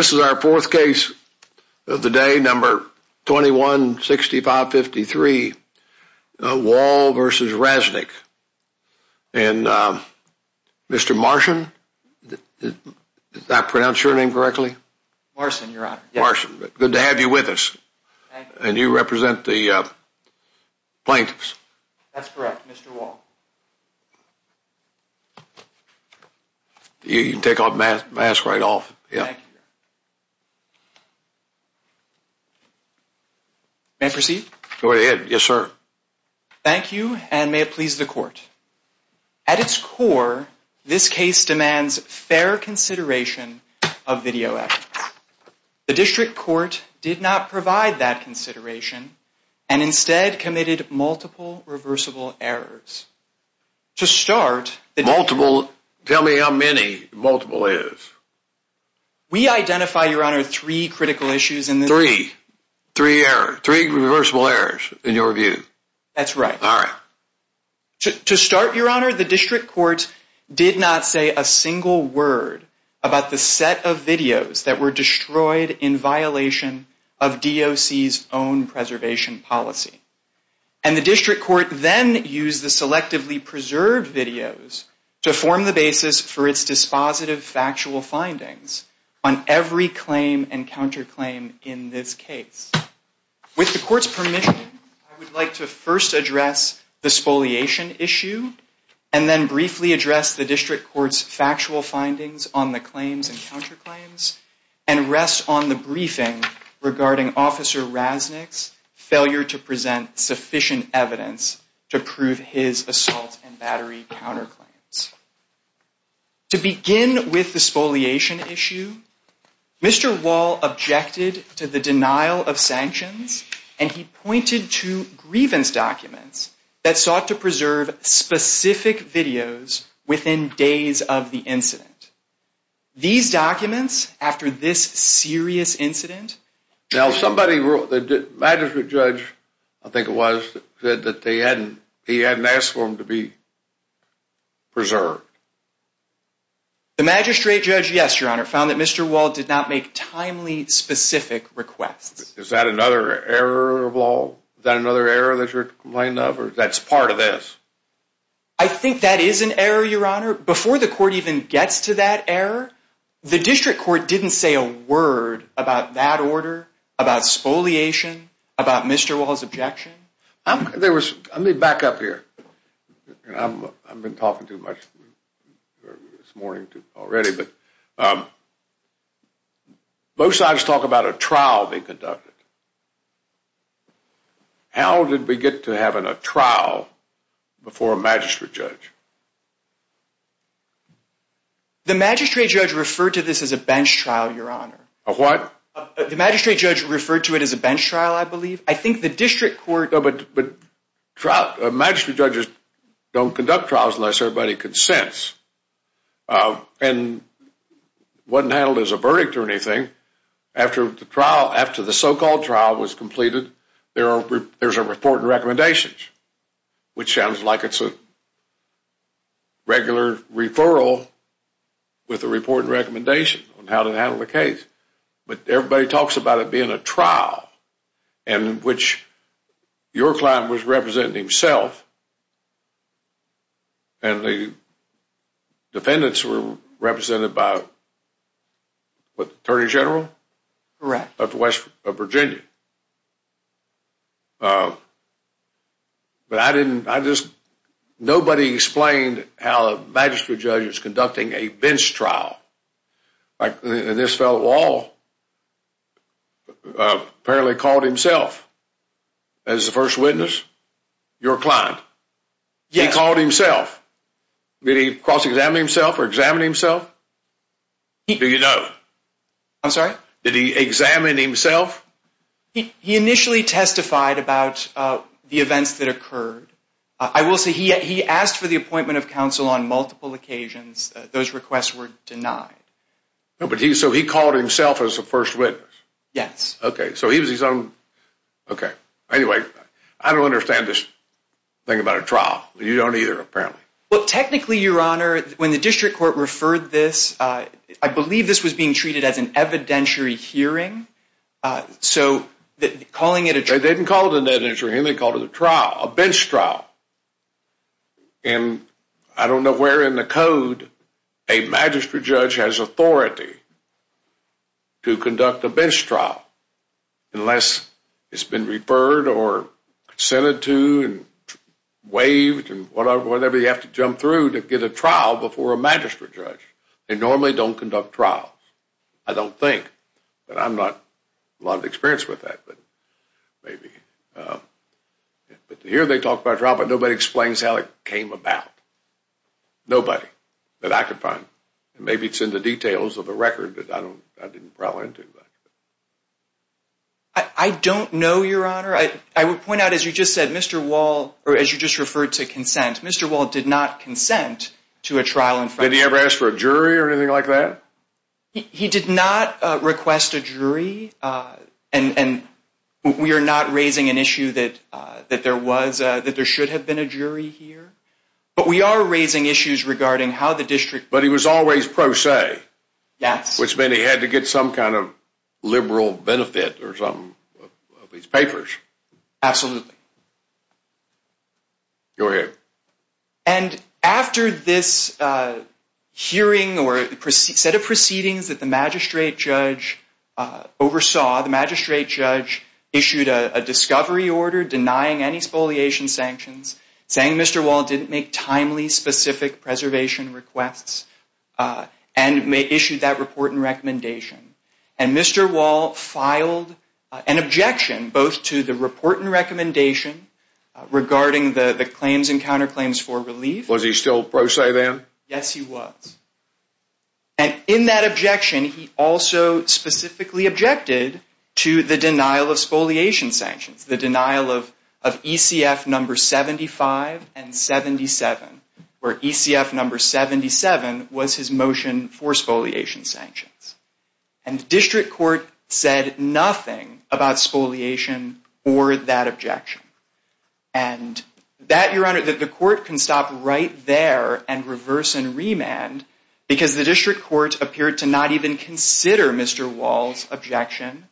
This is our fourth case of the day, number 21-65-53, Wall v. Rasnick, and Mr. Marshon, did I pronounce your name correctly? Marson, your honor. Marson, good to have you with us. And you represent the plaintiffs? That's correct, Mr. Wall. You can take off your mask right off. Thank you. May I proceed? Go ahead. Yes, sir. Thank you, and may it please the court. At its core, this case demands fair consideration of video evidence. The district court did not provide that consideration, and instead committed multiple reversible errors. Multiple. Multiple. Multiple. Multiple. Multiple. Multiple. Multiple. Multiple. Multiple. Multiple. Multiple. Multiple. We identify, your honor, three critical issues in this case. Three. Three errors. Three reversible errors, in your view. That's right. All right. To start, your honor, the district court did not say a single word about the set of videos that were destroyed in violation of DOC's own preservation policy. And the district court then used the selectively preserved videos to form the basis for its dispositive factual findings on every claim and counterclaim in this case. With the court's permission, I would like to first address the spoliation issue, and then briefly address the district court's factual findings on the claims and counterclaims, and rest on the briefing regarding Officer Rasnick's failure to present sufficient evidence to prove his assault and battery counterclaims. To begin with the spoliation issue, Mr. Wall objected to the denial of sanctions, and he pointed to grievance documents that sought to preserve specific videos within days of the incident. These documents, after this serious incident. Now, somebody wrote, the magistrate judge, I think it was, said that they hadn't, he The magistrate judge, yes, your honor, found that Mr. Wall did not make timely, specific requests. Is that another error of law? Is that another error that you're complaining of? That's part of this? I think that is an error, your honor. Before the court even gets to that error, the district court didn't say a word about that order, about spoliation, about Mr. Wall's objection. Let me back up here. I've been talking too much this morning already, but both sides talk about a trial being conducted. How did we get to having a trial before a magistrate judge? The magistrate judge referred to this as a bench trial, your honor. A what? The magistrate judge referred to it as a bench trial, I believe. I think the district court... But magistrate judges don't conduct trials unless everybody consents. And it wasn't handled as a verdict or anything. After the trial, after the so-called trial was completed, there's a report and recommendations, which sounds like it's a regular referral with a report and recommendation on how to handle the case. But everybody talks about it being a trial in which your client was representing himself and the defendants were represented by the attorney general of Virginia. But nobody explained how a magistrate judge is conducting a bench trial. And this fellow Wall apparently called himself as the first witness, your client. Yes. He called himself. Did he cross-examine himself or examine himself? Do you know? I'm sorry? Did he examine himself? He initially testified about the events that occurred. I will say he asked for the appointment of counsel on multiple occasions. Those requests were denied. So he called himself as the first witness? Yes. Okay. So he was his own... Okay. Anyway, I don't understand this thing about a trial. You don't either, apparently. Well, technically, Your Honor, when the district court referred this, I believe this was being treated as an evidentiary hearing. So calling it a... They didn't call it an evidentiary hearing. They called it a trial, a bench trial. And I don't know where in the code a magistrate judge has authority to conduct a bench trial unless it's been referred or consented to and waived and whatever you have to jump through to get a trial before a magistrate judge. They normally don't conduct trials, I don't think, but I'm not a lot of experience with that, but maybe. But here they talk about a trial, but nobody explains how it came about. Nobody that I could find. Maybe it's in the details of the record, but I didn't roll into it. I don't know, Your Honor. I would point out, as you just said, Mr. Wall, or as you just referred to consent, Mr. Wall did not consent to a trial in front of... Did he ever ask for a jury or anything like that? He did not request a jury, and we are not raising an issue that there should have been a jury here. But we are raising issues regarding how the district... But he was always pro se, which meant he had to get some kind of liberal benefit or something of these papers. Absolutely. Go ahead. And after this hearing or set of proceedings that the magistrate judge oversaw, the magistrate judge issued a discovery order denying any spoliation sanctions, saying Mr. Wall didn't make timely, specific preservation requests, and issued that report and recommendation. And Mr. Wall filed an objection both to the report and recommendation regarding the claims and counterclaims for relief. Was he still pro se then? Yes, he was. And in that objection, he also specifically objected to the denial of spoliation sanctions, the denial of ECF number 75 and 77, where ECF number 77 was his motion for spoliation sanctions. And the district court said nothing about spoliation or that objection. And that, Your Honor, that the court can stop right there and reverse and remand because the district court appeared to not even consider Mr. Wall's objection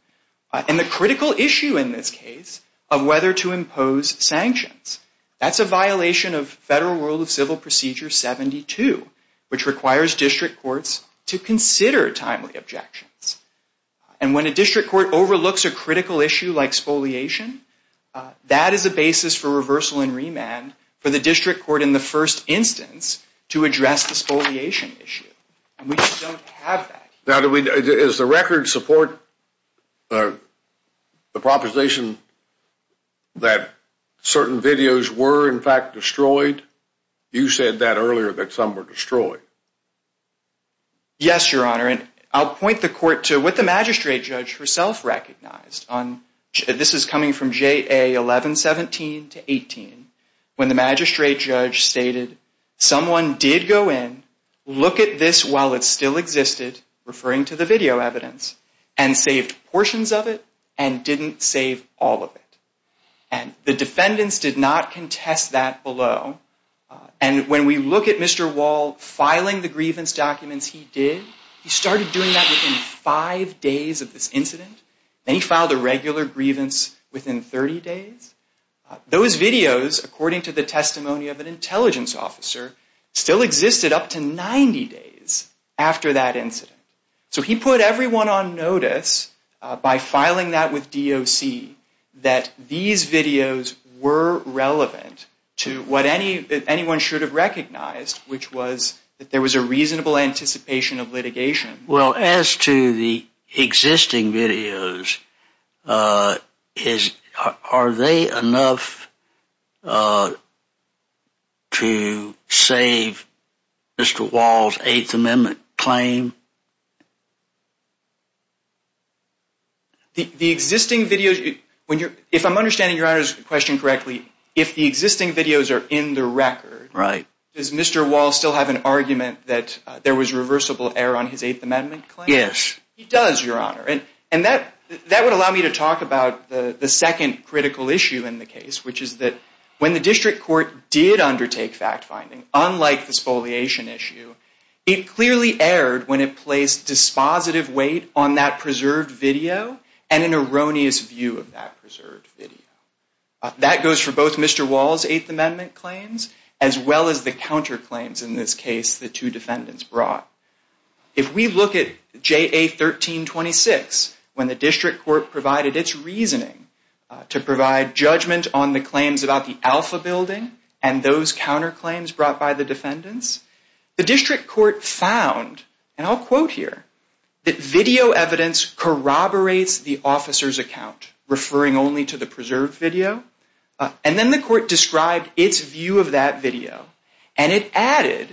and the critical issue in this case of whether to impose sanctions. That's a violation of Federal Rule of Civil Procedure 72, which requires district courts to consider timely objections. And when a district court overlooks a critical issue like spoliation, that is a basis for reversal and remand for the district court in the first instance to address the spoliation issue. And we just don't have that. Now, does the record support the proposition that certain videos were, in fact, destroyed? You said that earlier, that some were destroyed. Yes, Your Honor. And I'll point the court to what the magistrate judge herself recognized. This is coming from JA 1117 to 18, when the magistrate judge stated someone did go in, look at this while it still existed, referring to the video evidence, and saved portions of it and didn't save all of it. And the defendants did not contest that below. And when we look at Mr. Wall filing the grievance documents he did, he started doing that within five days of this incident, and he filed a regular grievance within 30 days. Those videos, according to the testimony of an intelligence officer, still existed up to 90 days after that incident. So he put everyone on notice by filing that with DOC that these videos were relevant to what anyone should have recognized, which was that there was a reasonable anticipation of litigation. Well, as to the existing videos, are they enough to save Mr. Wall's Eighth Amendment claim? The existing videos, if I'm understanding Your Honor's question correctly, if the existing videos are in the record, does Mr. Wall still have an argument that there was reversible error on his Eighth Amendment claim? Yes. He does, Your Honor. And that would allow me to talk about the second critical issue in the case, which is that when the district court did undertake fact-finding, unlike this foliation issue, it clearly erred when it placed dispositive weight on that preserved video and an erroneous view of that preserved video. That goes for both Mr. Wall's Eighth Amendment claims as well as the counterclaims in this case the two defendants brought. If we look at JA 1326, when the district court provided its reasoning to provide judgment on the claims about the Alpha Building and those counterclaims brought by the defendants, the district court found, and I'll quote here, that video evidence corroborates the officer's preserved video. And then the court described its view of that video. And it added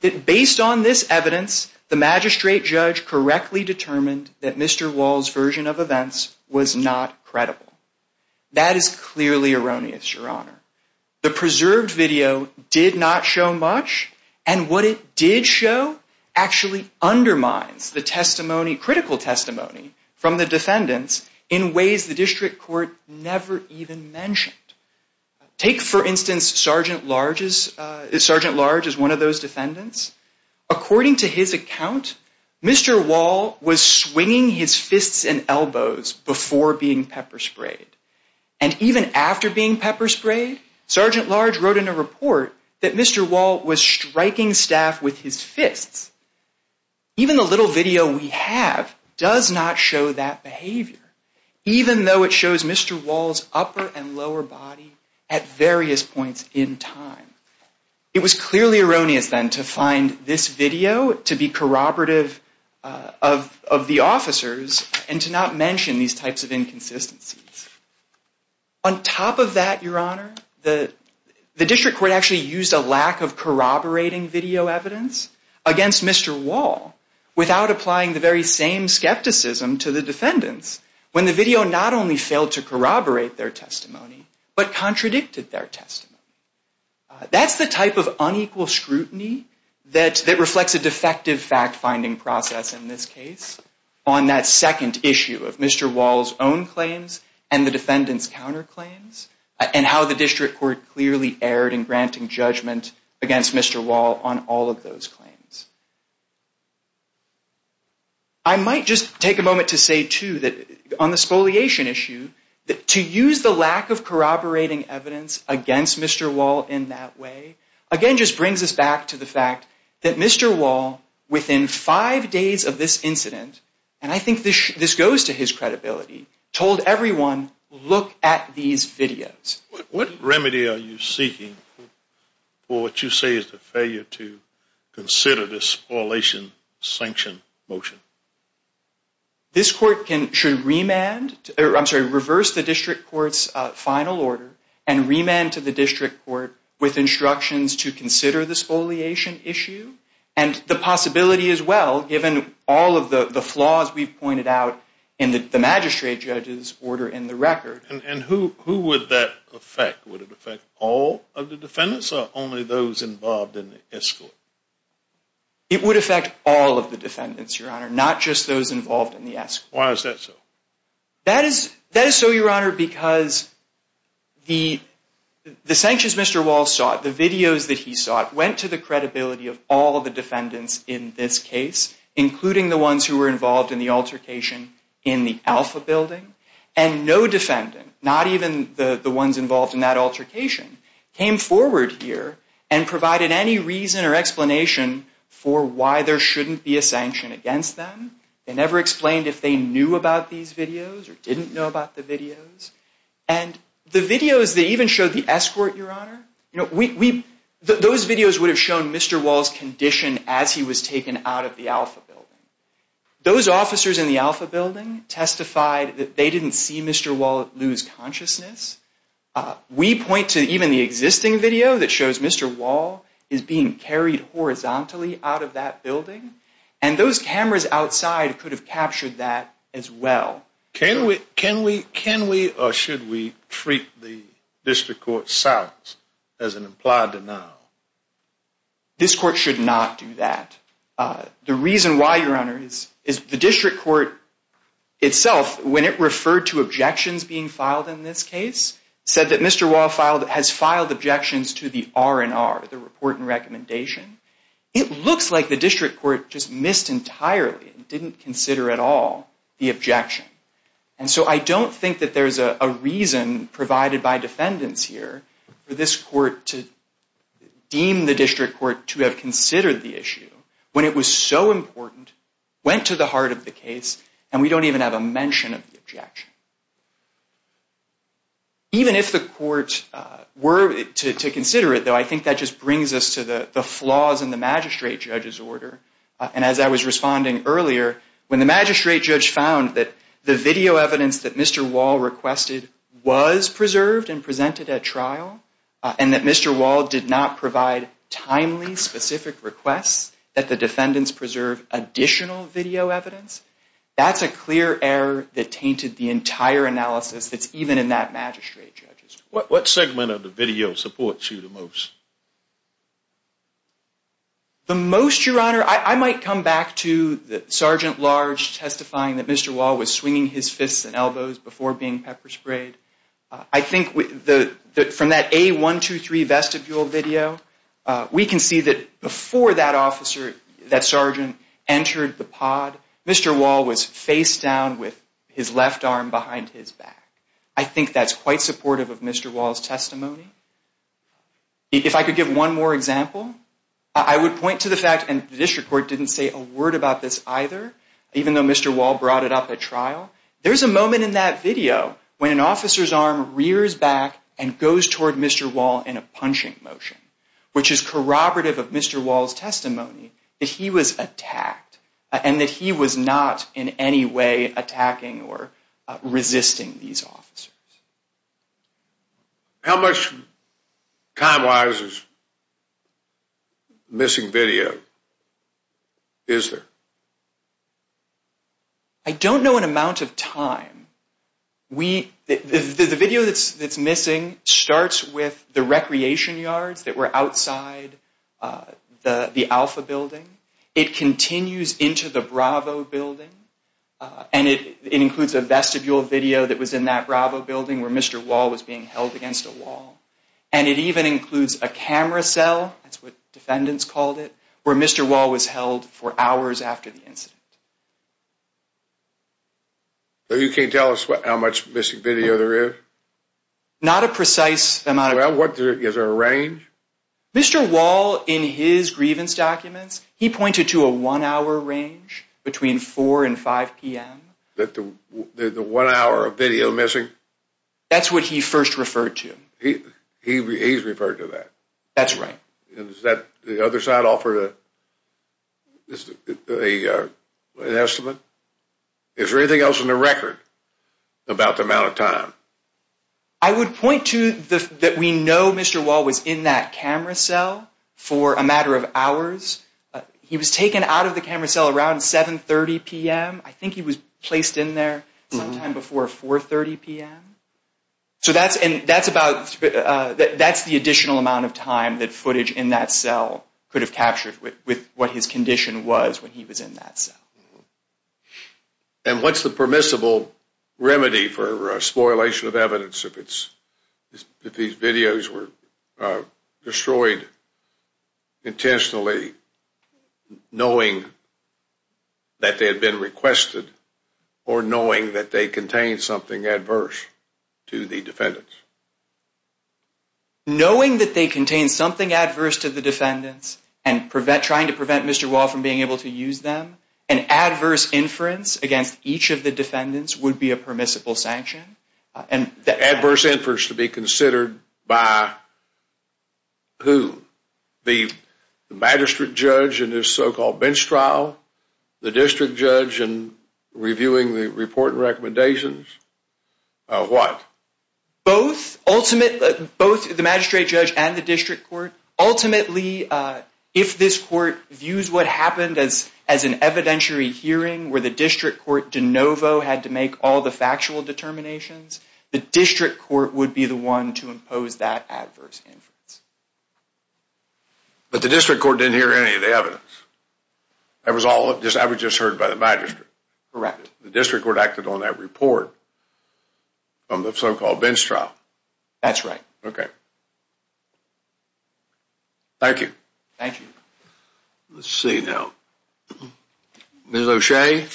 that, based on this evidence, the magistrate judge correctly determined that Mr. Wall's version of events was not credible. That is clearly erroneous, Your Honor. The preserved video did not show much. And what it did show actually undermines the testimony, critical testimony from the defendants in ways the district court never even mentioned. Take for instance, Sergeant Large is one of those defendants. According to his account, Mr. Wall was swinging his fists and elbows before being pepper sprayed. And even after being pepper sprayed, Sergeant Large wrote in a report that Mr. Wall was striking staff with his fists. Even the little video we have does not show that behavior, even though it shows Mr. Wall's upper and lower body at various points in time. It was clearly erroneous, then, to find this video to be corroborative of the officers and to not mention these types of inconsistencies. On top of that, Your Honor, the district court actually used a lack of corroborating video against Mr. Wall without applying the very same skepticism to the defendants when the video not only failed to corroborate their testimony, but contradicted their testimony. That's the type of unequal scrutiny that reflects a defective fact-finding process in this case on that second issue of Mr. Wall's own claims and the defendants' counterclaims and how the district court clearly erred in granting judgment against Mr. Wall on all of those claims. I might just take a moment to say, too, that on the spoliation issue, to use the lack of corroborating evidence against Mr. Wall in that way, again, just brings us back to the fact that Mr. Wall, within five days of this incident, and I think this goes to his credibility, told everyone, look at these videos. What remedy are you seeking for what you say is the failure to consider the spoliation sanction motion? This court should reverse the district court's final order and remand to the district court with instructions to consider the spoliation issue and the possibility, as well, given all of the flaws we've pointed out in the magistrate judge's order in the record. And who would that affect? Would it affect all of the defendants or only those involved in the escort? It would affect all of the defendants, Your Honor, not just those involved in the escort. Why is that so? That is so, Your Honor, because the sanctions Mr. Wall sought, the videos that he sought, went to the credibility of all of the defendants in this case, including the ones who were not even the ones involved in that altercation, came forward here and provided any reason or explanation for why there shouldn't be a sanction against them. They never explained if they knew about these videos or didn't know about the videos. And the videos that even showed the escort, Your Honor, those videos would have shown Mr. Wall's condition as he was taken out of the Alpha Building. Those officers in the Alpha Building testified that they didn't see Mr. Wall lose consciousness. We point to even the existing video that shows Mr. Wall is being carried horizontally out of that building, and those cameras outside could have captured that as well. Can we or should we treat the district court's silence as an implied denial? This court should not do that. The reason why, Your Honor, is the district court itself, when it referred to objections being filed in this case, said that Mr. Wall has filed objections to the R&R, the report and recommendation. It looks like the district court just missed entirely and didn't consider at all the objection. And so I don't think that there's a reason provided by defendants here for this court to deem the district court to have considered the issue when it was so important, went to the heart of the case, and we don't even have a mention of the objection. Even if the court were to consider it, though, I think that just brings us to the flaws in the magistrate judge's order. And as I was responding earlier, when the magistrate judge found that the video evidence that Mr. Wall requested was preserved and presented at trial, and that Mr. Wall did not provide timely, specific requests that the defendants preserve additional video evidence, that's a clear error that tainted the entire analysis that's even in that magistrate judge's order. What segment of the video supports you the most? The most, Your Honor, I might come back to Sergeant Large testifying that Mr. Wall was pepper sprayed. I think from that A123 vestibule video, we can see that before that officer, that sergeant, entered the pod, Mr. Wall was face down with his left arm behind his back. I think that's quite supportive of Mr. Wall's testimony. If I could give one more example, I would point to the fact, and the district court didn't say a word about this either, even though Mr. Wall brought it up at trial, there's a moment in that video when an officer's arm rears back and goes toward Mr. Wall in a punching motion, which is corroborative of Mr. Wall's testimony that he was attacked, and that he was not in any way attacking or resisting these officers. How much time-wise is missing video, is there? I don't know an amount of time. The video that's missing starts with the recreation yards that were outside the Alpha building. It continues into the Bravo building, and it includes a vestibule video that was in that Bravo building where Mr. Wall was being held against a wall. And it even includes a camera cell, that's what defendants called it, where Mr. Wall was held for hours after the incident. You can't tell us how much missing video there is? Not a precise amount. Well, what, is there a range? Mr. Wall, in his grievance documents, he pointed to a one-hour range between 4 and 5 p.m. The one hour of video missing? That's what he first referred to. He's referred to that? That's right. Does the other side offer an estimate? Is there anything else in the record about the amount of time? I would point to that we know Mr. Wall was in that camera cell for a matter of hours. He was taken out of the camera cell around 7.30 p.m. I think he was placed in there sometime before 4.30 p.m. So that's the additional amount of time that footage in that cell could have captured with what his condition was when he was in that cell. And what's the permissible remedy for spoilation of evidence if these videos were destroyed intentionally, knowing that they had been requested, or knowing that they contained something adverse to the defendants? Knowing that they contained something adverse to the defendants and trying to prevent Mr. Wall from being able to use them, an adverse inference against each of the defendants would be a permissible sanction. Adverse inference to be considered by who? The magistrate judge in his so-called bench trial? The district judge in reviewing the report and recommendations? What? Both. Ultimately, both the magistrate judge and the district court, ultimately, if this court views what happened as an evidentiary hearing where the district court de novo had to make all the factual determinations, the district court would be the one to impose that adverse But the district court didn't hear any of the evidence. I was just heard by the magistrate. Correct. The district court acted on that report from the so-called bench trial? That's right. Okay. Thank you. Thank you. Let's see now. Ms. O'Shea?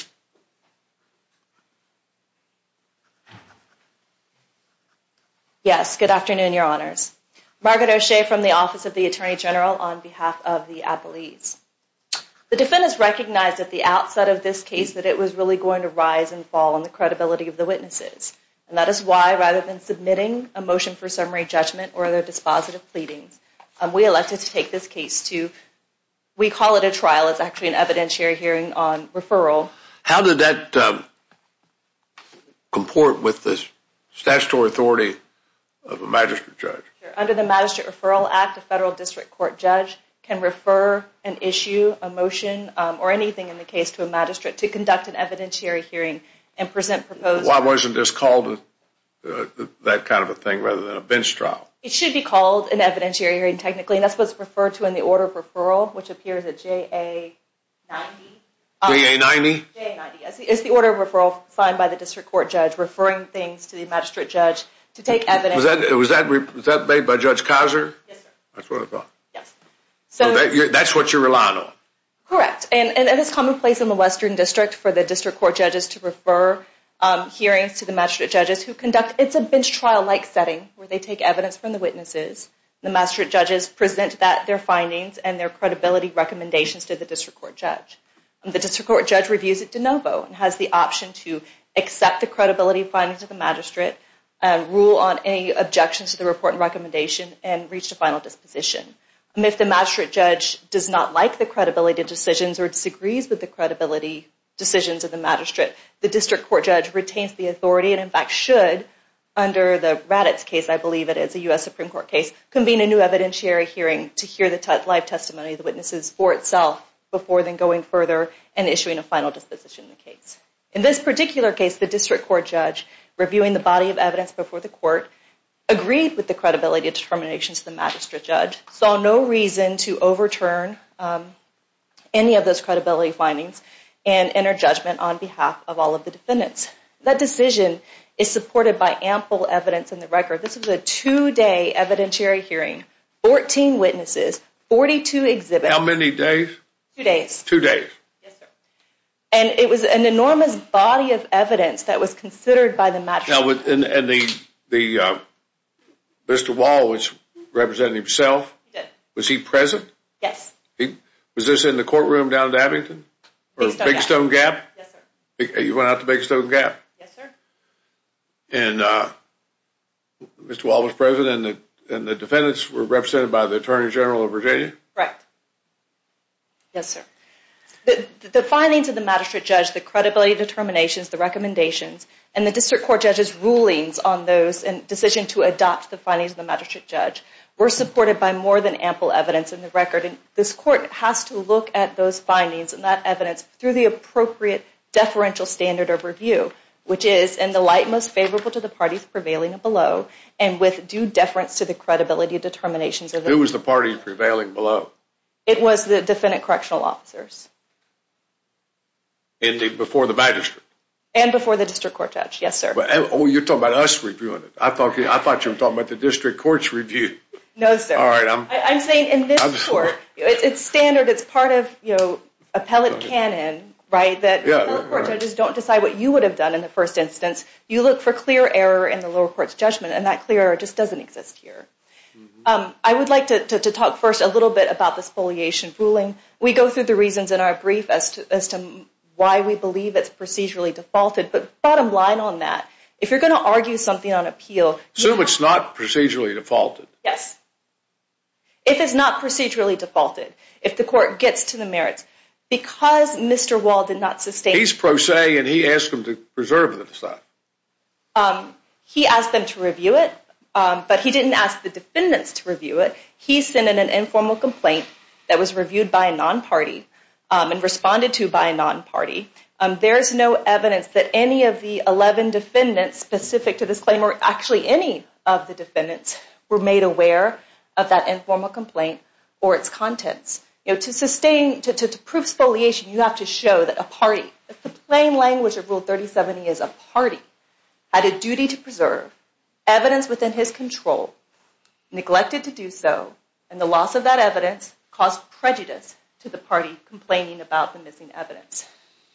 Yes, good afternoon, Your Honors. Margaret O'Shea from the Office of the Attorney General on behalf of the Appellees. The defendants recognized at the outset of this case that it was really going to rise and fall on the credibility of the witnesses, and that is why, rather than submitting a motion for summary judgment or other dispositive pleadings, we elected to take this case to we call it a trial. It's actually an evidentiary hearing on referral. How did that comport with the statutory authority of a magistrate judge? Under the Magistrate Referral Act, a federal district court judge can refer an issue, a motion, or anything in the case to a magistrate to conduct an evidentiary hearing and present proposed... Why wasn't this called that kind of a thing rather than a bench trial? It should be called an evidentiary hearing technically, and that's what's referred to in the order of referral, which appears at JA 90. JA 90? JA 90. It's the order of referral signed by the district court judge referring things to the magistrate judge to take evidence... Was that made by Judge Couser? Yes, sir. That's what I thought. Yes. So that's what you're relying on? Correct. And it's commonplace in the Western District for the district court judges to refer hearings to the magistrate judges who conduct... It's a bench trial-like setting where they take evidence from the witnesses. The magistrate judges present that, their findings, and their credibility recommendations to the district court judge. The district court judge reviews it de novo and has the option to accept the credibility findings of the magistrate, rule on any objections to the report and recommendation, and reach a final disposition. If the magistrate judge does not like the credibility of decisions or disagrees with the credibility decisions of the magistrate, the district court judge retains the authority and, in fact, should, under the Raddatz case, I believe it is, a U.S. Supreme Court case, convene a new evidentiary hearing to hear the live testimony of the witnesses for itself before then going further and issuing a final disposition in the case. In this particular case, the district court judge, reviewing the body of evidence before the court, agreed with the credibility of determinations of the magistrate judge, saw no reason to overturn any of those credibility findings and enter judgment on behalf of all of the defendants. That decision is supported by ample evidence in the record. This was a two-day evidentiary hearing, 14 witnesses, 42 exhibits. How many days? Two days. Two days. Yes, sir. And it was an enormous body of evidence that was considered by the magistrate. And the, Mr. Wall, which represented himself, was he present? Yes. Was this in the courtroom down in Abington? Big Stone Gap. Big Stone Gap? Yes, sir. You went out to Big Stone Gap? Yes, sir. And Mr. Wall was present and the defendants were represented by the Attorney General of Virginia? Correct. Yes, sir. The findings of the magistrate judge, the credibility of determinations, the recommendations, and the District Court judge's rulings on those and decision to adopt the findings of the magistrate judge were supported by more than ample evidence in the record. This court has to look at those findings and that evidence through the appropriate deferential standard of review, which is in the light most favorable to the parties prevailing below and with due deference to the credibility of determinations of the defendants. Who was the party prevailing below? It was the defendant correctional officers. And before the magistrate? And before the District Court judge, yes, sir. Oh, you're talking about us reviewing it. I thought you were talking about the District Court's review. No, sir. All right. I'm saying in this court, it's standard. It's part of, you know, appellate canon, right, that the court judges don't decide what you would have done in the first instance. You look for clear error in the lower court's judgment and that clear error just doesn't exist here. I would like to talk first a little bit about the spoliation ruling. We go through the reasons in our brief as to why we believe it's procedurally defaulted, but bottom line on that, if you're going to argue something on appeal... Assume it's not procedurally defaulted. Yes. If it's not procedurally defaulted, if the court gets to the merits, because Mr. Wall did not sustain... He's pro se and he asked them to preserve the decide. He asked them to review it, but he didn't ask the defendants to review it. He sent in an informal complaint that was reviewed by a non-party and responded to by a non-party. There's no evidence that any of the 11 defendants specific to this claim, or actually any of the defendants, were made aware of that informal complaint or its contents. To sustain... To prove spoliation, you have to show that a party, if the plain language of Rule 3070 is a party, had a duty to preserve evidence within his control, neglected to do so, and the loss of that evidence caused prejudice to the party complaining about the missing evidence.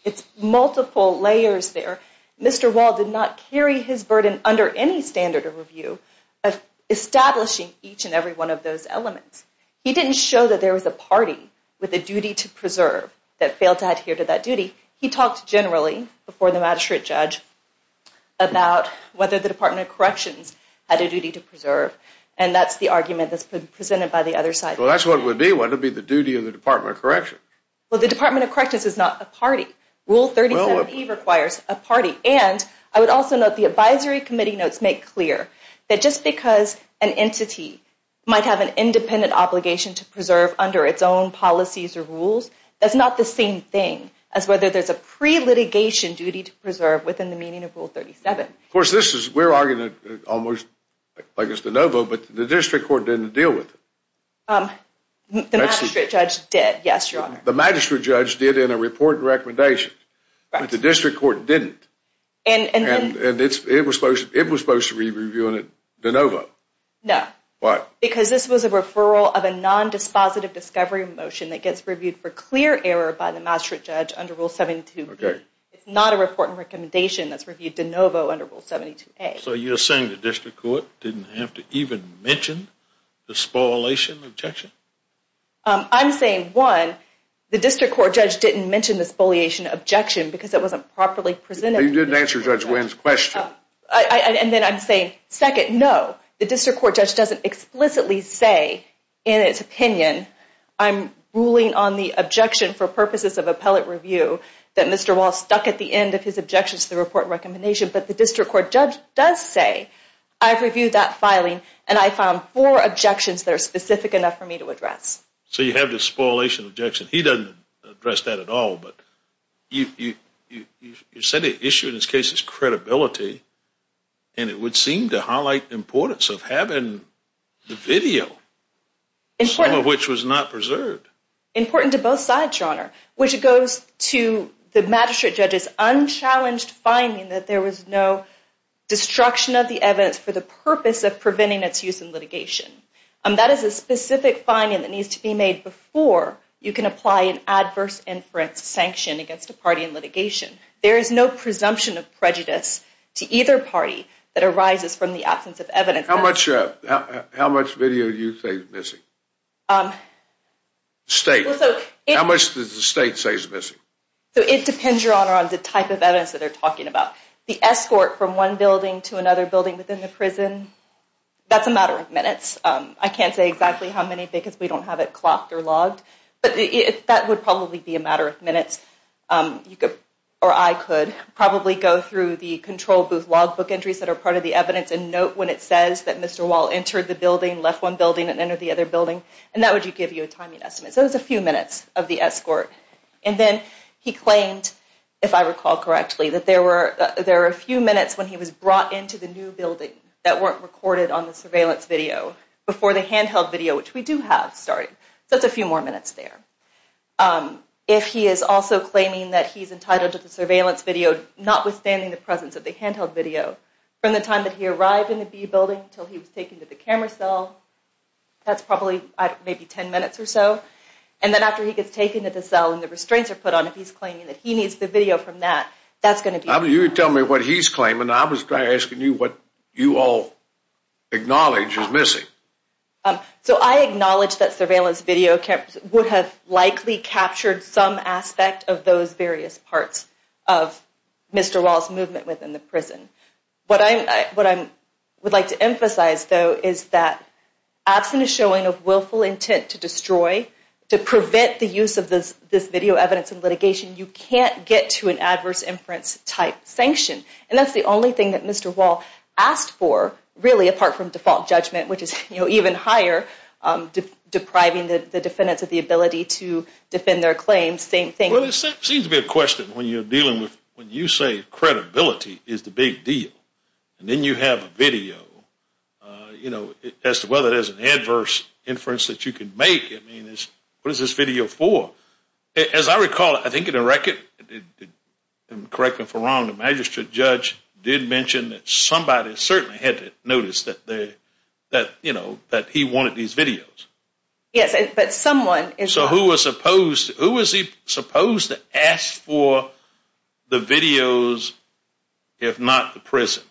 It's multiple layers there. Mr. Wall did not carry his burden under any standard of review of establishing each and every one of those elements. He didn't show that there was a party with a duty to preserve that failed to adhere to that duty. He talked generally, before the magistrate judge, about whether the Department of Corrections had a duty to preserve, and that's the argument that's been presented by the other side. Well, that's what it would be. What would be the duty of the Department of Corrections? Well, the Department of Corrections is not a party. Rule 3070 requires a party. And I would also note the advisory committee notes make clear that just because an entity might have an independent obligation to preserve under its own policies or rules, that's not the same thing as whether there's a pre-litigation duty to preserve within the meaning of Rule 3070. Of course, we're arguing almost like it's de novo, but the district court didn't deal with it. The magistrate judge did, yes, Your Honor. The magistrate judge did in a report and recommendation, but the district court didn't. And it was supposed to be reviewing it de novo. No. Why? Because this was a referral of a non-dispositive discovery motion that gets reviewed for clear error by the magistrate judge under Rule 72B. It's not a report and recommendation that's reviewed de novo under Rule 72A. So you're saying the district court didn't have to even mention the spoliation objection? I'm saying, one, the district court judge didn't mention the spoliation objection because it wasn't properly presented. You didn't answer Judge Wynn's question. And then I'm saying, second, no, the district court judge doesn't explicitly say in its opinion, I'm ruling on the objection for purposes of appellate review that Mr. Wall stuck at the end of his objections to the report and recommendation, but the district court judge does say, I've reviewed that filing and I found four objections that are specific enough for me to address. So you have the spoliation objection. He doesn't address that at all, but you said the issue in this case is credibility, and it would seem to highlight the importance of having the video, some of which was not preserved. Important to both sides, Your Honor, which goes to the magistrate judge's unchallenged finding that there was no destruction of the evidence for the purpose of preventing its use in litigation. That is a specific finding that needs to be made before you can apply an adverse inference sanction against a party in litigation. There is no presumption of prejudice to either party that arises from the absence of evidence. How much video do you say is missing? State. How much does the state say is missing? It depends, Your Honor, on the type of evidence that they're talking about. The escort from one building to another building within the prison, that's a matter of minutes. I can't say exactly how many because we don't have it clocked or logged, but that would probably be a matter of minutes. You could, or I could, probably go through the control booth logbook entries that are part of the evidence and note when it says that Mr. Wall entered the building, left one building and entered the other building, and that would give you a timing estimate. So it's a few minutes of the escort. And then he claimed, if I recall correctly, that there were a few minutes when he was brought into the new building that weren't recorded on the surveillance video before the handheld video, which we do have, started. So that's a few more minutes there. If he is also claiming that he's entitled to the surveillance video, notwithstanding the presence of the handheld video, from the time that he arrived in the B building until he was taken to the camera cell, that's probably, I don't know, maybe 10 minutes or so. And then after he gets taken to the cell and the restraints are put on him, he's claiming that he needs the video from that. That's going to be... You tell me what he's claiming. I was asking you what you all acknowledge is missing. So I acknowledge that surveillance video would have likely captured some aspect of those various parts of Mr. Wall's movement within the prison. What I would like to emphasize, though, is that absent a showing of willful intent to destroy, to prevent the use of this video evidence in litigation, you can't get to an adverse inference type sanction. And that's the only thing that Mr. Wall asked for, really, apart from default judgment, which is even higher, depriving the defendants of the ability to defend their claims. Same thing... Well, there seems to be a question when you're dealing with... When you say credibility is the big deal, and then you have a video, as to whether there's an adverse inference that you can make, I mean, what is this video for? As I recall, I think in the record, and correct me if I'm wrong, the magistrate judge did mention that somebody certainly had noticed that he wanted these videos. Yes, but someone... So who was he supposed to ask for the videos, if not the prison?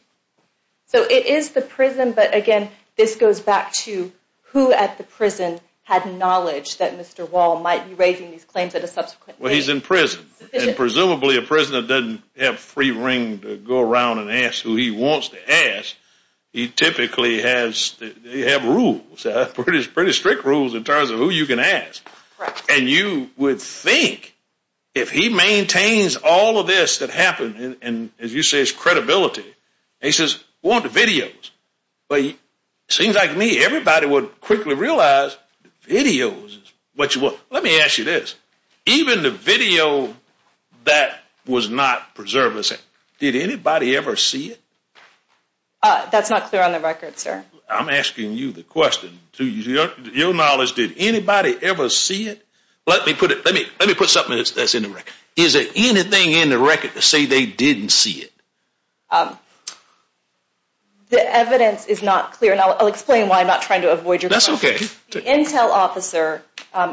So it is the prison, but again, this goes back to who at the prison had knowledge that Mr. Wall might be raising these claims at a subsequent date. Well, he's in prison, and presumably a prisoner doesn't have free reign to go around and ask who he wants to ask. He typically has... They have rules, pretty strict rules in terms of who you can ask, and you would think if he maintains all of this that happened, and as you say, it's credibility, and he says, we want the videos, but it seems like me, everybody would quickly realize the videos is what you want. Let me ask you this. Even the video that was not preserved, did anybody ever see it? That's not clear on the record, sir. I'm asking you the question, to your knowledge, did anybody ever see it? Let me put something that's in the record. Is there anything in the record to say they didn't see it? The evidence is not clear, and I'll explain why I'm not trying to avoid your question. That's okay. The intel officer,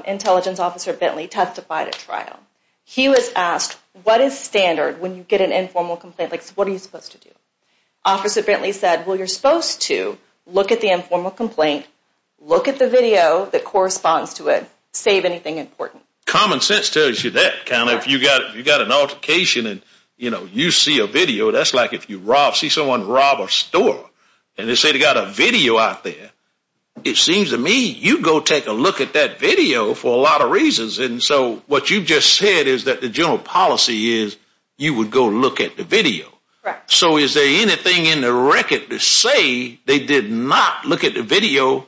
intelligence officer Bentley testified at trial. He was asked, what is standard when you get an informal complaint, like what are you supposed to do? Officer Bentley said, well, you're supposed to look at the informal complaint, look at the video that corresponds to it, save anything important. Common sense tells you that, if you got an altercation, and you see a video, that's like if you see someone rob a store, and they say they got a video out there, it seems to me you'd go take a look at that video for a lot of reasons, and so what you just said is that the general policy is you would go look at the video. So is there anything in the record to say they did not look at the video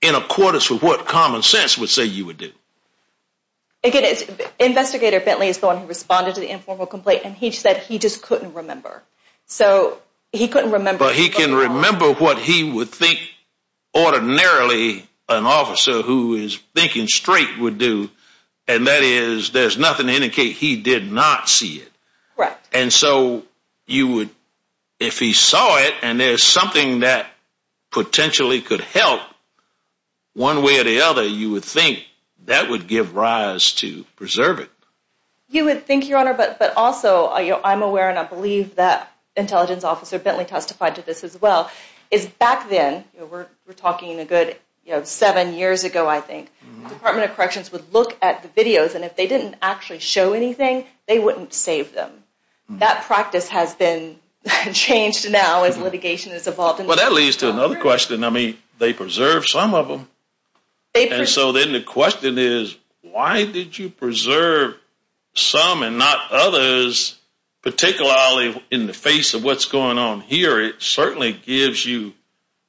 in accordance with what common sense would say you would do? Again, investigator Bentley is the one who responded to the informal complaint, and he said he just couldn't remember. So he couldn't remember. But he can remember what he would think ordinarily an officer who is thinking straight would do, and that is there's nothing to indicate he did not see it. And so you would, if he saw it, and there's something that potentially could help one way or the other, you would think that would give rise to preserving. You would think, Your Honor, but also I'm aware and I believe that intelligence officer Bentley testified to this as well, is back then, we're talking a good seven years ago I think, the Department of Corrections would look at the videos, and if they didn't actually show anything, they wouldn't save them. That practice has been changed now as litigation has evolved. Well that leads to another question, I mean, they preserved some of them, and so then the question is, why did you preserve some and not others, particularly in the face of what's going on here? It certainly gives you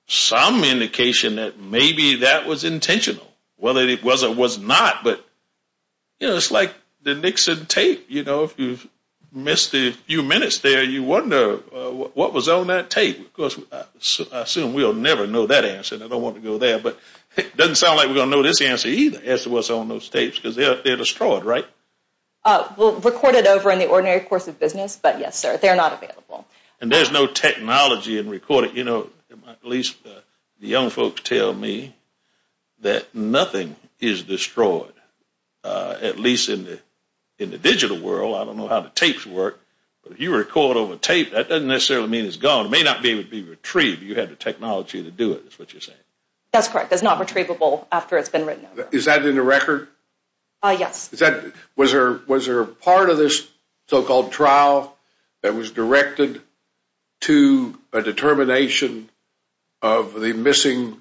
some indication that maybe that was intentional, whether it was or was not, but it's like the Nixon tape, you know, if you missed a few minutes there, you wonder what was on that tape, because I assume we'll never know that answer, and I don't want to go there, but it doesn't sound like we're going to know this answer either as to what's on those tapes, because they're destroyed, right? Well, recorded over in the ordinary course of business, but yes, sir, they're not available. And there's no technology in recording, you know, at least the young folks tell me, that nothing is destroyed, at least in the digital world, I don't know how the tapes work, but if you record over tape, that doesn't necessarily mean it's gone, it may not be able to be retrieved, you have the technology to do it, is what you're saying? That's correct, it's not retrievable after it's been written. Is that in the record? Yes. Was there a part of this so-called trial that was directed to a determination of the missing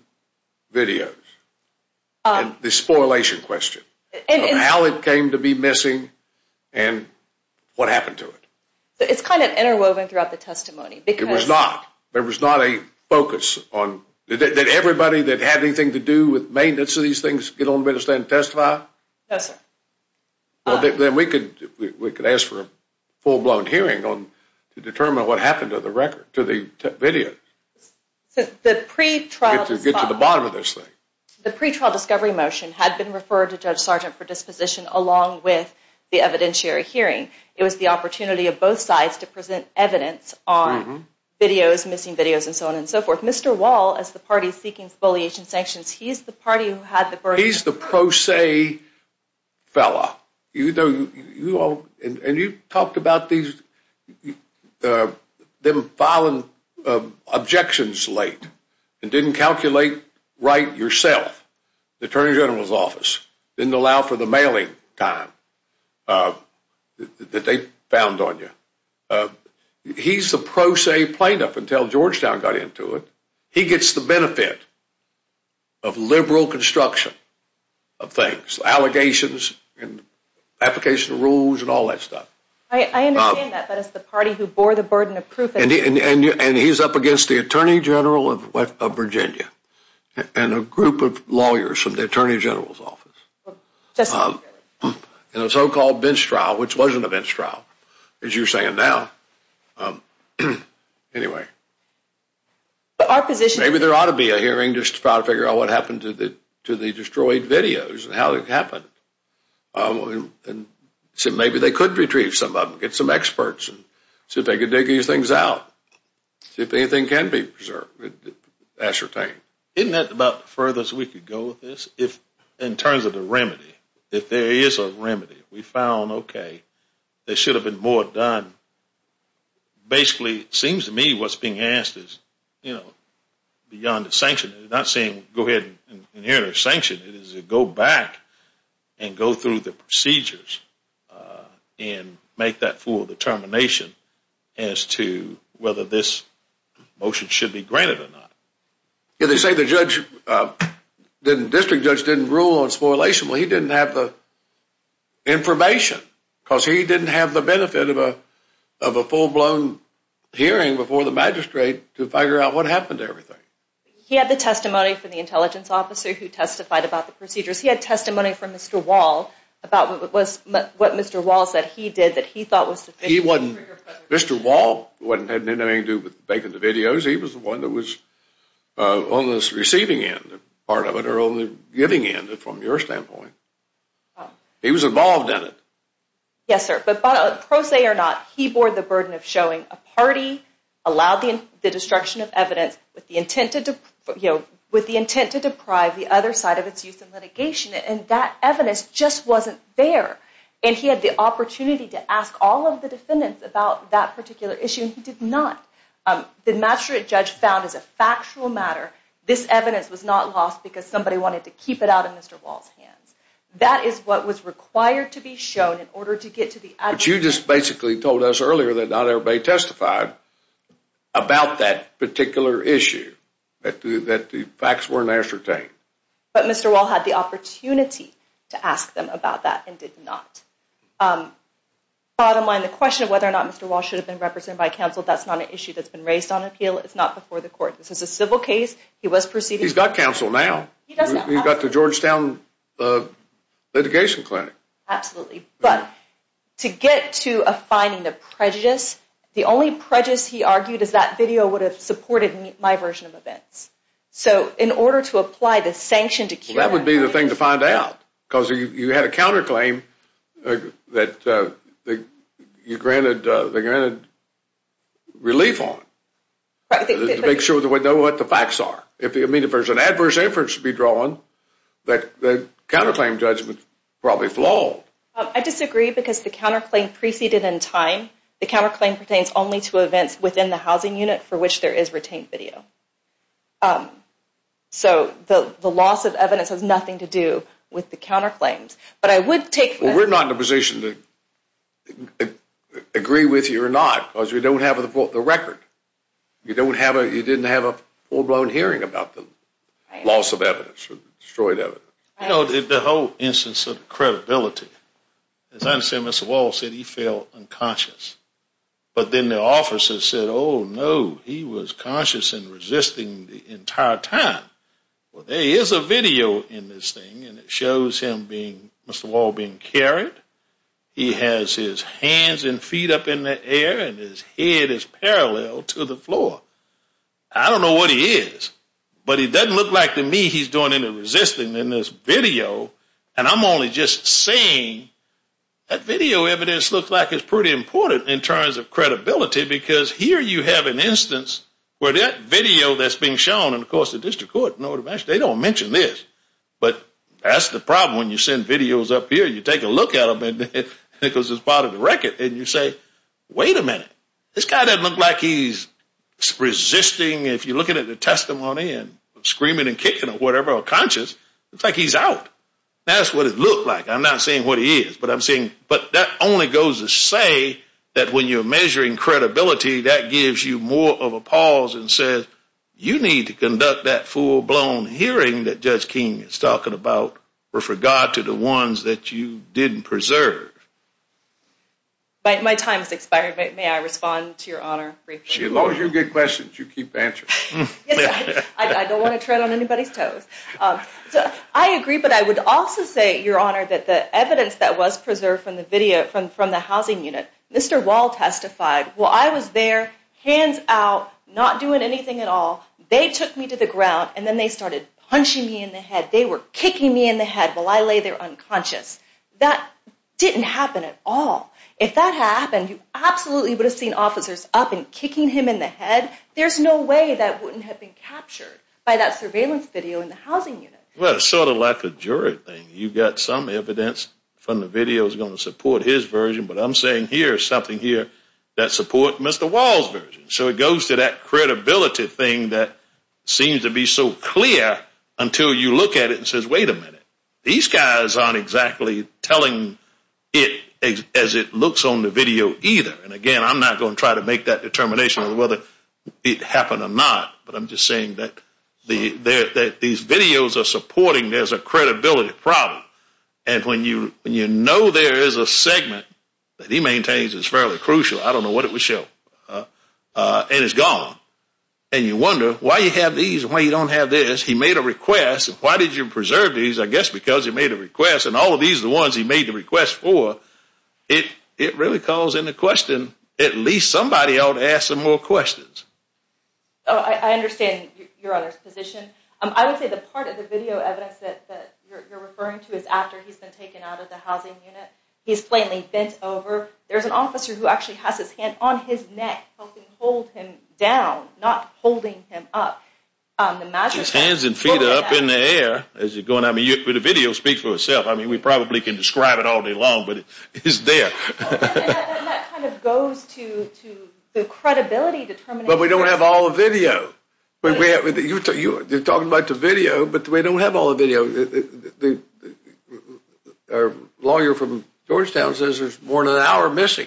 videos, the spoilation question, of how it came to be missing, and what happened to it? It's kind of interwoven throughout the testimony, because... It was not, there was not a focus on, did everybody that had anything to do with maintenance of these things get on the bench and testify? No, sir. Well, then we could ask for a full-blown hearing to determine what happened to the record, to the videos. The pre-trial... To get to the bottom of this thing. The pre-trial discovery motion had been referred to Judge Sargent for disposition along with the evidentiary hearing. It was the opportunity of both sides to present evidence on videos, missing videos, and so on and so forth. Mr. Wall, as the party seeking spoliation sanctions, he's the party who had the burden... He's the pro se fella. And you talked about them filing objections late, and didn't calculate right yourself, the Attorney General's office, didn't allow for the mailing time that they found on you. He's the pro se plaintiff until Georgetown got into it. He gets the benefit of liberal construction of things, allegations, and application of rules, and all that stuff. I understand that, but it's the party who bore the burden of proof. And he's up against the Attorney General of Virginia, and a group of lawyers from the Attorney General's office, in a so-called bench trial, which wasn't a bench trial, as you're saying now. Anyway. Maybe there ought to be a hearing just to try to figure out what happened to the destroyed videos and how it happened. Maybe they could retrieve some of them, get some experts, and see if they could dig these things out. See if anything can be preserved, ascertained. Isn't that about the furthest we could go with this? In terms of the remedy, if there is a remedy, we found, okay, there should have been more done. Basically, it seems to me what's being asked is beyond the sanction, it's not saying go ahead and enter a sanction, it is to go back and go through the procedures and make that full determination as to whether this motion should be granted or not. Yeah, they say the district judge didn't rule on spoilation, but he didn't have the information because he didn't have the benefit of a full-blown hearing before the magistrate to figure out what happened to everything. He had the testimony from the intelligence officer who testified about the procedures. He had testimony from Mr. Wall about what Mr. Wall said he did that he thought was the biggest trigger. He wasn't, Mr. Wall had nothing to do with making the videos. He was the one that was on the receiving end, part of it, or on the giving end, from your standpoint. He was involved in it. Yes, sir, but prosaic or not, he bore the burden of showing a party, allowed the destruction of evidence with the intent to deprive the other side of its use in litigation, and that evidence just wasn't there, and he had the opportunity to ask all of the defendants about that particular issue, and he did not. The magistrate judge found as a factual matter, this evidence was not lost because somebody wanted to keep it out of Mr. Wall's hands. That is what was required to be shown in order to get to the adjudicator. But you just basically told us earlier that not everybody testified about that particular issue, that the facts weren't ascertained. But Mr. Wall had the opportunity to ask them about that and did not. Bottom line, the question of whether or not Mr. Wall should have been represented by counsel, that's not an issue that's been raised on appeal. It's not before the court. This is a civil case. He was proceeding. He's got counsel now. He's got the Georgetown litigation clinic. Absolutely. But to get to a finding of prejudice, the only prejudice he argued is that video would have supported my version of events. So in order to apply the sanction to keep it out of Mr. Wall's hands. That would be the thing to find out, because you had a counterclaim that you granted relief on to make sure that we know what the facts are. If there's an adverse inference to be drawn, the counterclaim judgment is probably flawed. I disagree, because the counterclaim preceded in time. The counterclaim pertains only to events within the housing unit for which there is retained video. So the loss of evidence has nothing to do with the counterclaims. But I would take... Well, we're not in a position to agree with you or not, because you don't have the record. You don't have a... You didn't have a full-blown hearing about the loss of evidence or destroyed evidence. The whole instance of credibility, as I understand, Mr. Wall said he felt unconscious. But then the officers said, oh, no, he was conscious and resisting the entire time. Well, there is a video in this thing, and it shows him being, Mr. Wall being carried. He has his hands and feet up in the air, and his head is parallel to the floor. I don't know what he is, but he doesn't look like to me he's doing any resisting in this video. And I'm only just saying that video evidence looks like it's pretty important in terms of credibility, because here you have an instance where that video that's being shown, and of course, the district court, they don't mention this. But that's the problem. And when you send videos up here, you take a look at them, because it's part of the record, and you say, wait a minute, this guy doesn't look like he's resisting. If you're looking at the testimony and screaming and kicking or whatever, or conscious, it's like he's out. That's what it looked like. I'm not saying what he is, but I'm saying... But that only goes to say that when you're measuring credibility, that gives you more of a pause and says, you need to conduct that full-blown hearing that Judge King is talking about were forgot to the ones that you didn't preserve. My time has expired. May I respond to your Honor briefly? As long as you get questions, you keep answering. I don't want to tread on anybody's toes. I agree, but I would also say, Your Honor, that the evidence that was preserved from the video, from the housing unit, Mr. Wall testified, well, I was there, hands out, not doing anything at all. They took me to the ground, and then they started punching me in the head. They were kicking me in the head while I lay there unconscious. That didn't happen at all. If that happened, you absolutely would have seen officers up and kicking him in the head. There's no way that wouldn't have been captured by that surveillance video in the housing unit. Well, it's sort of like a jury thing. You've got some evidence from the video that's going to support his version, but I'm saying here is something here that supports Mr. Wall's version. It goes to that credibility thing that seems to be so clear until you look at it and say, wait a minute, these guys aren't exactly telling it as it looks on the video either. Again, I'm not going to try to make that determination on whether it happened or not, but I'm just saying that these videos are supporting there's a credibility problem. When you know there is a segment that he maintains is fairly crucial. I don't know what it would show, and it's gone, and you wonder why you have these, why you don't have this. He made a request. Why did you preserve these? I guess because he made a request, and all of these are the ones he made the request for. It really calls into question at least somebody ought to ask some more questions. I understand your other position. I would say the part of the video evidence that you're referring to is after he's been taken out of the housing unit. He's plainly bent over. There's an officer who actually has his hand on his neck helping hold him down, not holding him up. His hands and feet are up in the air as you're going. The video speaks for itself. We probably can describe it all day long, but it's there. That kind of goes to the credibility determination. We don't have all the video. You're talking about the video, but we don't have all the video. Our lawyer from Georgetown says there's more than an hour missing.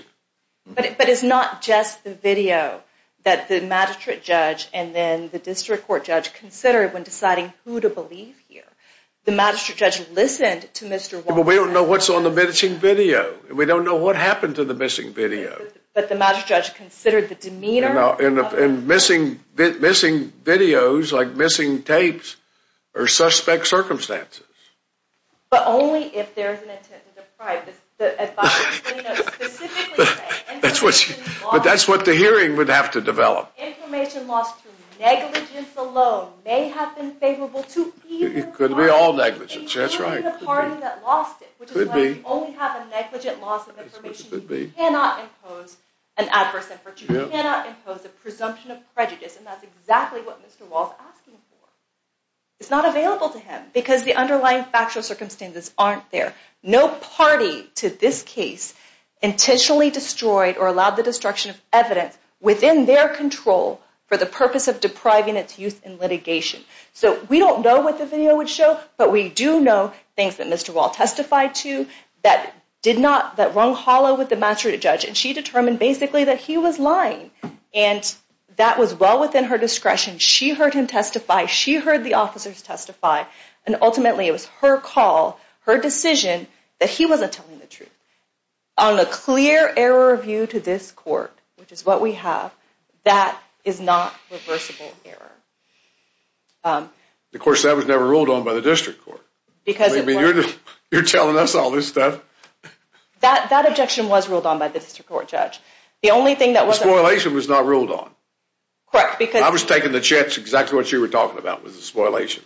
But it's not just the video that the magistrate judge and then the district court judge considered when deciding who to believe here. The magistrate judge listened to Mr. Walden. We don't know what's on the missing video. We don't know what happened to the missing video. But the magistrate judge considered the demeanor. Missing videos, like missing tapes, are suspect circumstances. But only if there's an intent to deprive the advisor of the video specifically. But that's what the hearing would have to develop. Information lost through negligence alone may have been favorable to either party. It could be all negligence, that's right. It could be the party that lost it, which is why we only have a negligent loss of information. You cannot impose an adverse inference. You cannot impose a presumption of prejudice. And that's exactly what Mr. Wall is asking for. It's not available to him because the underlying factual circumstances aren't there. No party to this case intentionally destroyed or allowed the destruction of evidence within their control for the purpose of depriving its use in litigation. So we don't know what the video would show, but we do know things that Mr. Wall testified to that did not, that rung hollow with the magistrate judge. And she determined basically that he was lying. And that was well within her discretion. She heard him testify. She heard the officers testify. And ultimately it was her call, her decision, that he wasn't telling the truth. On a clear error of view to this court, which is what we have, that is not reversible error. Of course, that was never ruled on by the district court. You're telling us all this stuff? That objection was ruled on by the district court judge. The only thing that wasn't- The spoliation was not ruled on. Correct, because- I was taking the chance. Exactly what you were talking about was the spoliation.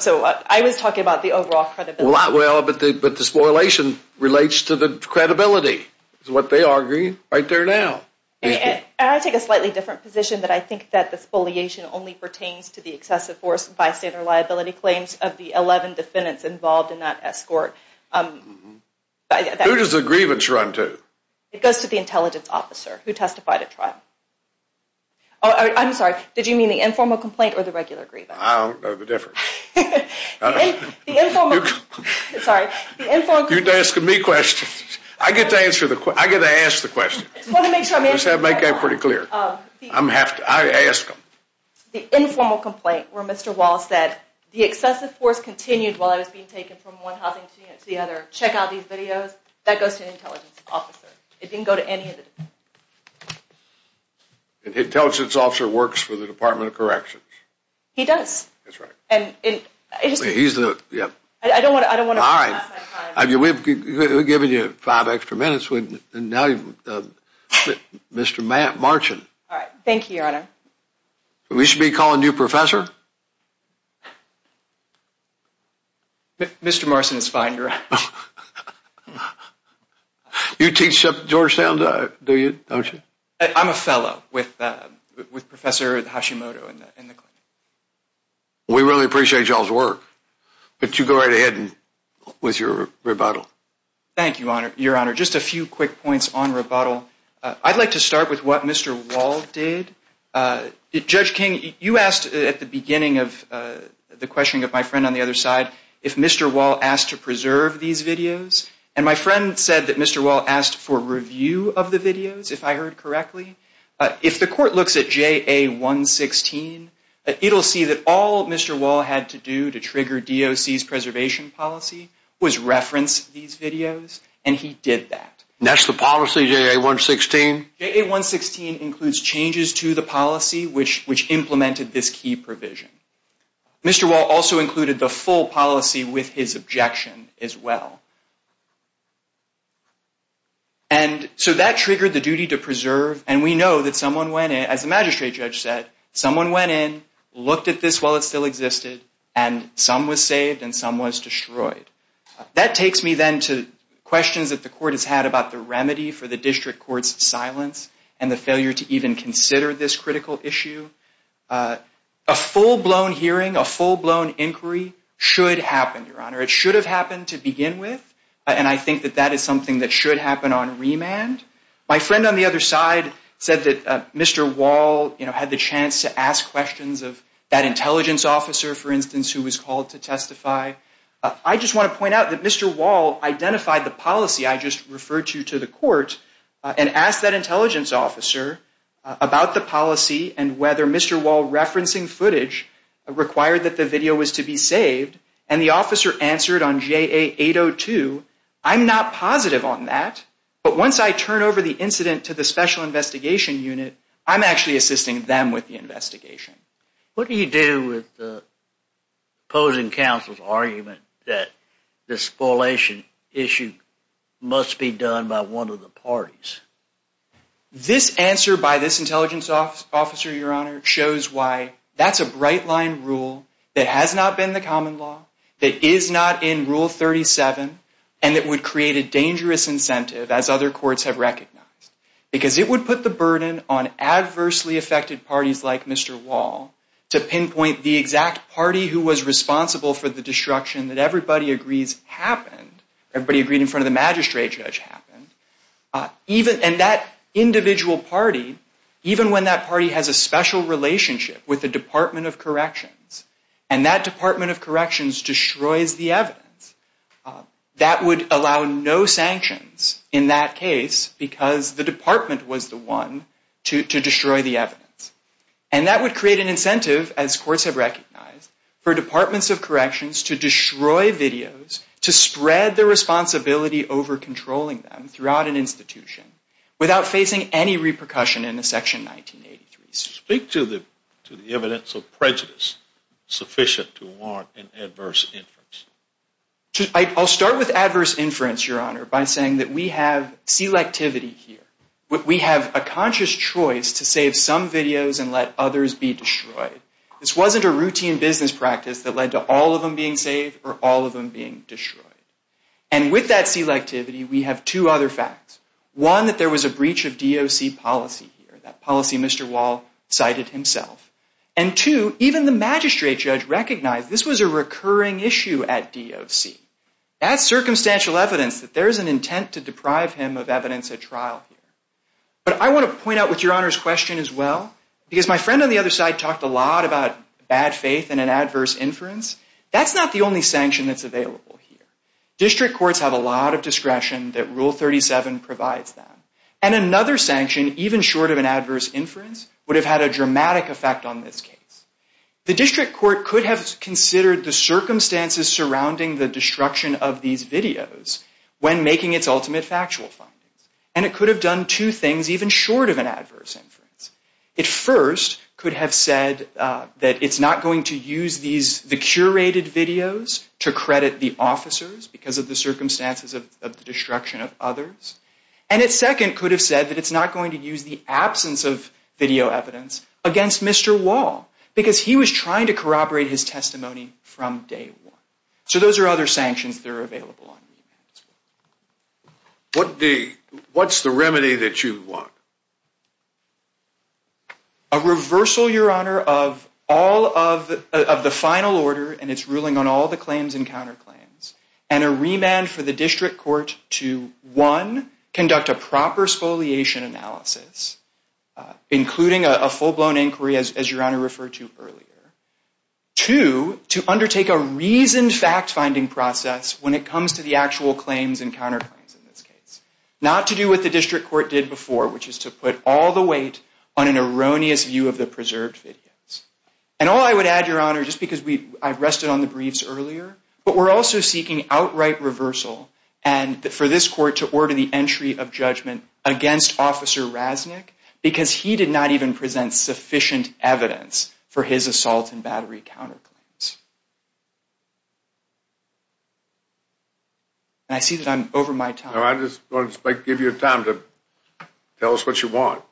So I was talking about the overall credibility. Well, but the spoliation relates to the credibility is what they argue right there now. And I take a slightly different position that I think that the spoliation only pertains to the excessive force and bystander liability claims of the 11 defendants involved in that escort. Who does the grievance run to? It goes to the intelligence officer who testified at trial. I'm sorry. Did you mean the informal complaint or the regular grievance? I don't know the difference. You're asking me questions. I get to answer the questions. I get to ask the questions. I just want to make sure I make that pretty clear. I ask them. The informal complaint where Mr. Wall said, the excessive force continued while I was being taken from one housing unit to the other. Check out these videos. That goes to an intelligence officer. It didn't go to any of the- An intelligence officer works for the Department of Corrections. He does. That's right. And- He's the- I don't want to- All right. We've given you five extra minutes and now you- Mr. Marchant. All right. Thank you, Your Honor. We should be calling you professor? Mr. Marchant is fine, Your Honor. You teach at Georgetown, don't you? I'm a fellow with Professor Hashimoto in the clinic. We really appreciate y'all's work. But you go right ahead with your rebuttal. Thank you, Your Honor. Just a few quick points on rebuttal. I'd like to start with what Mr. Wall did. Judge King, you asked at the beginning of the questioning of my friend on the other side if Mr. Wall asked to preserve these videos. And my friend said that Mr. Wall asked for review of the videos, if I heard correctly. If the court looks at JA116, it'll see that all Mr. Wall had to do to trigger DOC's preservation policy was reference these videos, and he did that. And that's the policy, JA116? JA116 includes changes to the policy which implemented this key provision. Mr. Wall also included the full policy with his objection as well. And so that triggered the duty to preserve, and we know that someone went in, as the magistrate judge said, someone went in, looked at this while it still existed, and some was saved and some was destroyed. That takes me then to questions that the court has had about the remedy for the district court's silence and the failure to even consider this critical issue. A full-blown hearing, a full-blown inquiry should happen, Your Honor. It should have happened to begin with, and I think that that is something that should happen on remand. My friend on the other side said that Mr. Wall had the chance to ask questions of that intelligence officer, for instance, who was called to testify. I just want to point out that Mr. Wall identified the policy I just referred to to the court and asked that intelligence officer about the policy and whether Mr. Wall referencing footage required that the video was to be saved, and the officer answered on JA802, I'm not positive on that, but once I turn over the incident to the special investigation unit, I'm actually assisting them with the investigation. What do you do with opposing counsel's argument that this correlation issue must be done by one of the parties? This answer by this intelligence officer, Your Honor, shows why that's a bright-line rule that has not been the common law, that is not in Rule 37, and that would create a dangerous incentive, as other courts have recognized, because it would put the burden on adversely affected parties like Mr. Wall to pinpoint the exact party who was responsible for the destruction that everybody agrees happened, everybody agreed in front of the magistrate judge happened, and that individual party, even when that party has a special relationship with the Department of Corrections, and that Department of Corrections destroys the evidence, that would allow no sanctions in that case because the department was the one to destroy the evidence, and that would create an incentive, as courts have recognized, for Departments of Corrections to destroy videos, to spread the responsibility over controlling them throughout an institution without facing any repercussion in the Section 1983. Speak to the evidence of prejudice sufficient to warrant an adverse inference. I'll start with adverse inference, Your Honor, by saying that we have selectivity here. We have a conscious choice to save some videos and let others be destroyed. This wasn't a routine business practice that led to all of them being saved or all of them being destroyed. And with that selectivity, we have two other facts. One, that there was a breach of DOC policy here, that policy Mr. Wall cited himself. And two, even the magistrate judge recognized this was a recurring issue at DOC. That's circumstantial evidence that there is an intent to deprive him of evidence at trial here. But I want to point out with Your Honor's question as well, because my friend on the other side talked a lot about bad faith and an adverse inference, that's not the only sanction that's available here. District courts have a lot of discretion that Rule 37 provides them. And another sanction, even short of an adverse inference, would have had a dramatic effect on this case. The district court could have considered the circumstances surrounding the destruction of these videos when making its ultimate factual findings. And it could have done two things even short of an adverse inference. It first could have said that it's not going to use the curated videos to credit the officers because of the circumstances of the destruction of others. And it second could have said that it's not going to use the absence of video evidence against Mr. Wall because he was trying to corroborate his testimony from day one. So those are other sanctions that are available on remand as well. What's the remedy that you want? A reversal, Your Honor, of the final order and its ruling on all the claims and counterclaims and a remand for the district court to, one, conduct a proper spoliation analysis, including a full-blown inquiry as Your Honor referred to earlier. Two, to undertake a reasoned fact-finding process when it comes to the actual claims and counterclaims in this case. Not to do what the district court did before, which is to put all the weight on an erroneous view of the preserved videos. And all I would add, Your Honor, just because I've rested on the briefs earlier, but we're also seeking outright reversal for this court to order the entry of judgment against Officer Raznick because he did not even present sufficient evidence for his assault and battery counterclaims. And I see that I'm over my time. I just want to give you time to tell us what you want.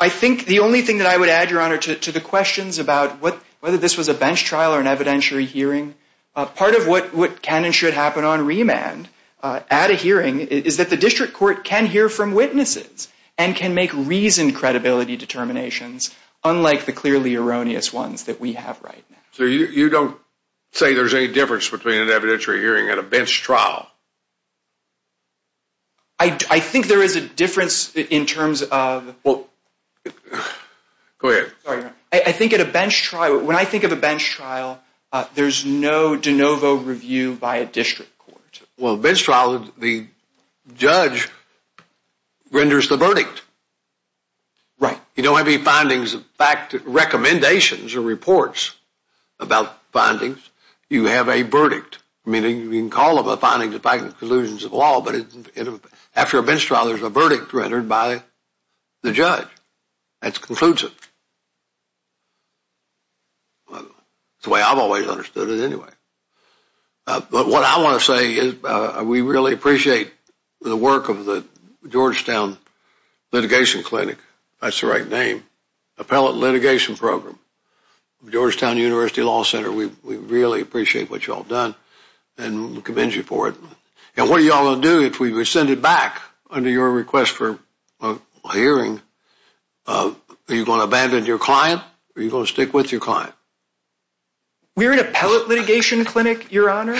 I think the only thing that I would add, Your Honor, to the questions about whether this was a bench trial or an evidentiary hearing, part of what can and should happen on remand at a hearing is that the district court can hear from witnesses and can make reasoned credibility determinations unlike the clearly erroneous ones that we have right now. So you don't say there's any difference between an evidentiary hearing and a bench trial? I think there is a difference in terms of... Go ahead. Sorry, Your Honor. I think at a bench trial, when I think of a bench trial, there's no de novo review by a district court. Well, a bench trial, the judge renders the verdict. Right. You don't have any findings, recommendations or reports about findings. You have a verdict. I mean, you can call them the findings and conclusions of the law, but after a bench trial, there's a verdict rendered by the judge. That concludes it. It's the way I've always understood it anyway. But what I want to say is we really appreciate the work of the Georgetown Litigation Clinic, if that's the right name, Appellate Litigation Program. Georgetown University Law Center, we really appreciate what you've all done and we commend you for it. And what are you all going to do if we send it back under your request for a hearing? Are you going to abandon your client or are you going to stick with your client? We're an appellate litigation clinic, Your Honor.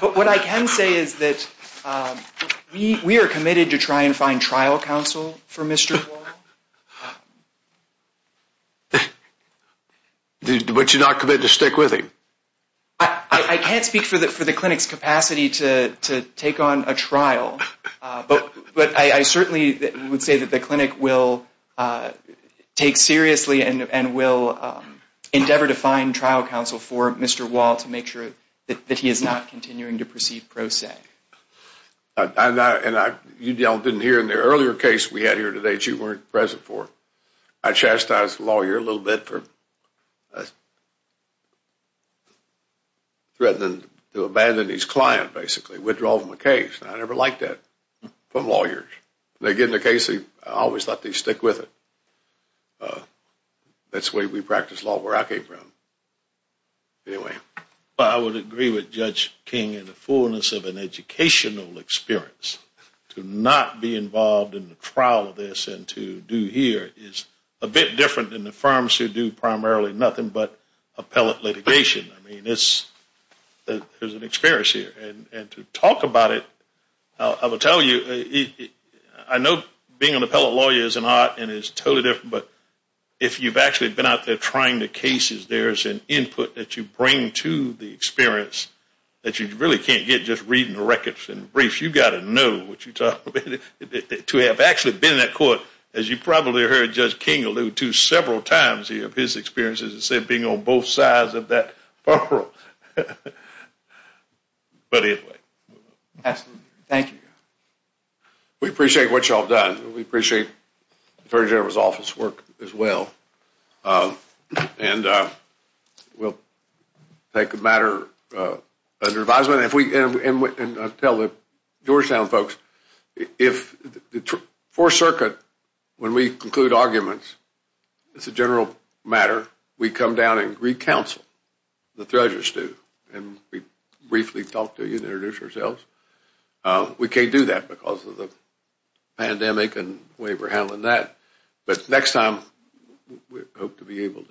But what I can say is that we are committed to try and find trial counsel for Mr. Wall. But you're not committed to stick with him? I can't speak for the clinic's capacity to take on a trial, but I certainly would say that the clinic will take seriously and will endeavor to find trial counsel for Mr. Wall to make sure that he is not continuing to proceed pro se. You didn't hear in the earlier case we had here today that you weren't present for. I chastised the lawyer a little bit for threatening to abandon his client, basically, withdrawing the case. I never liked that from lawyers. Again, the case, I always thought they'd stick with it. That's the way we practice law where I came from. I would agree with Judge King in the fullness of an educational experience. To not be involved in the trial of this and to do here is a bit different than the firms who do primarily nothing but appellate litigation. I mean, there's an experience here. And to talk about it, I will tell you, I know being an appellate lawyer is an art and is totally different, but if you've actually been out there trying the cases, there's an input that you bring to the experience that you really can't get just reading the records and briefs. You've got to know what you're talking about. To have actually been in that court, as you probably heard Judge King allude to several times here, his experiences of being on both sides of that barrel. But anyway. Absolutely. Thank you. We appreciate what you all have done. We appreciate the Attorney General's office work as well. And we'll take a matter under advisement. And I'll tell the Georgetown folks, if the Fourth Circuit, when we conclude arguments, it's a general matter, we come down and re-counsel the treasurer, Stu, and we briefly talk to you and introduce ourselves. We can't do that because of the pandemic and the way we're handling that. But next time, we hope to be able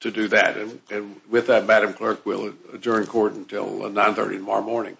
to do that. And with that, Madam Clerk, we'll adjourn court until 9.30 tomorrow morning.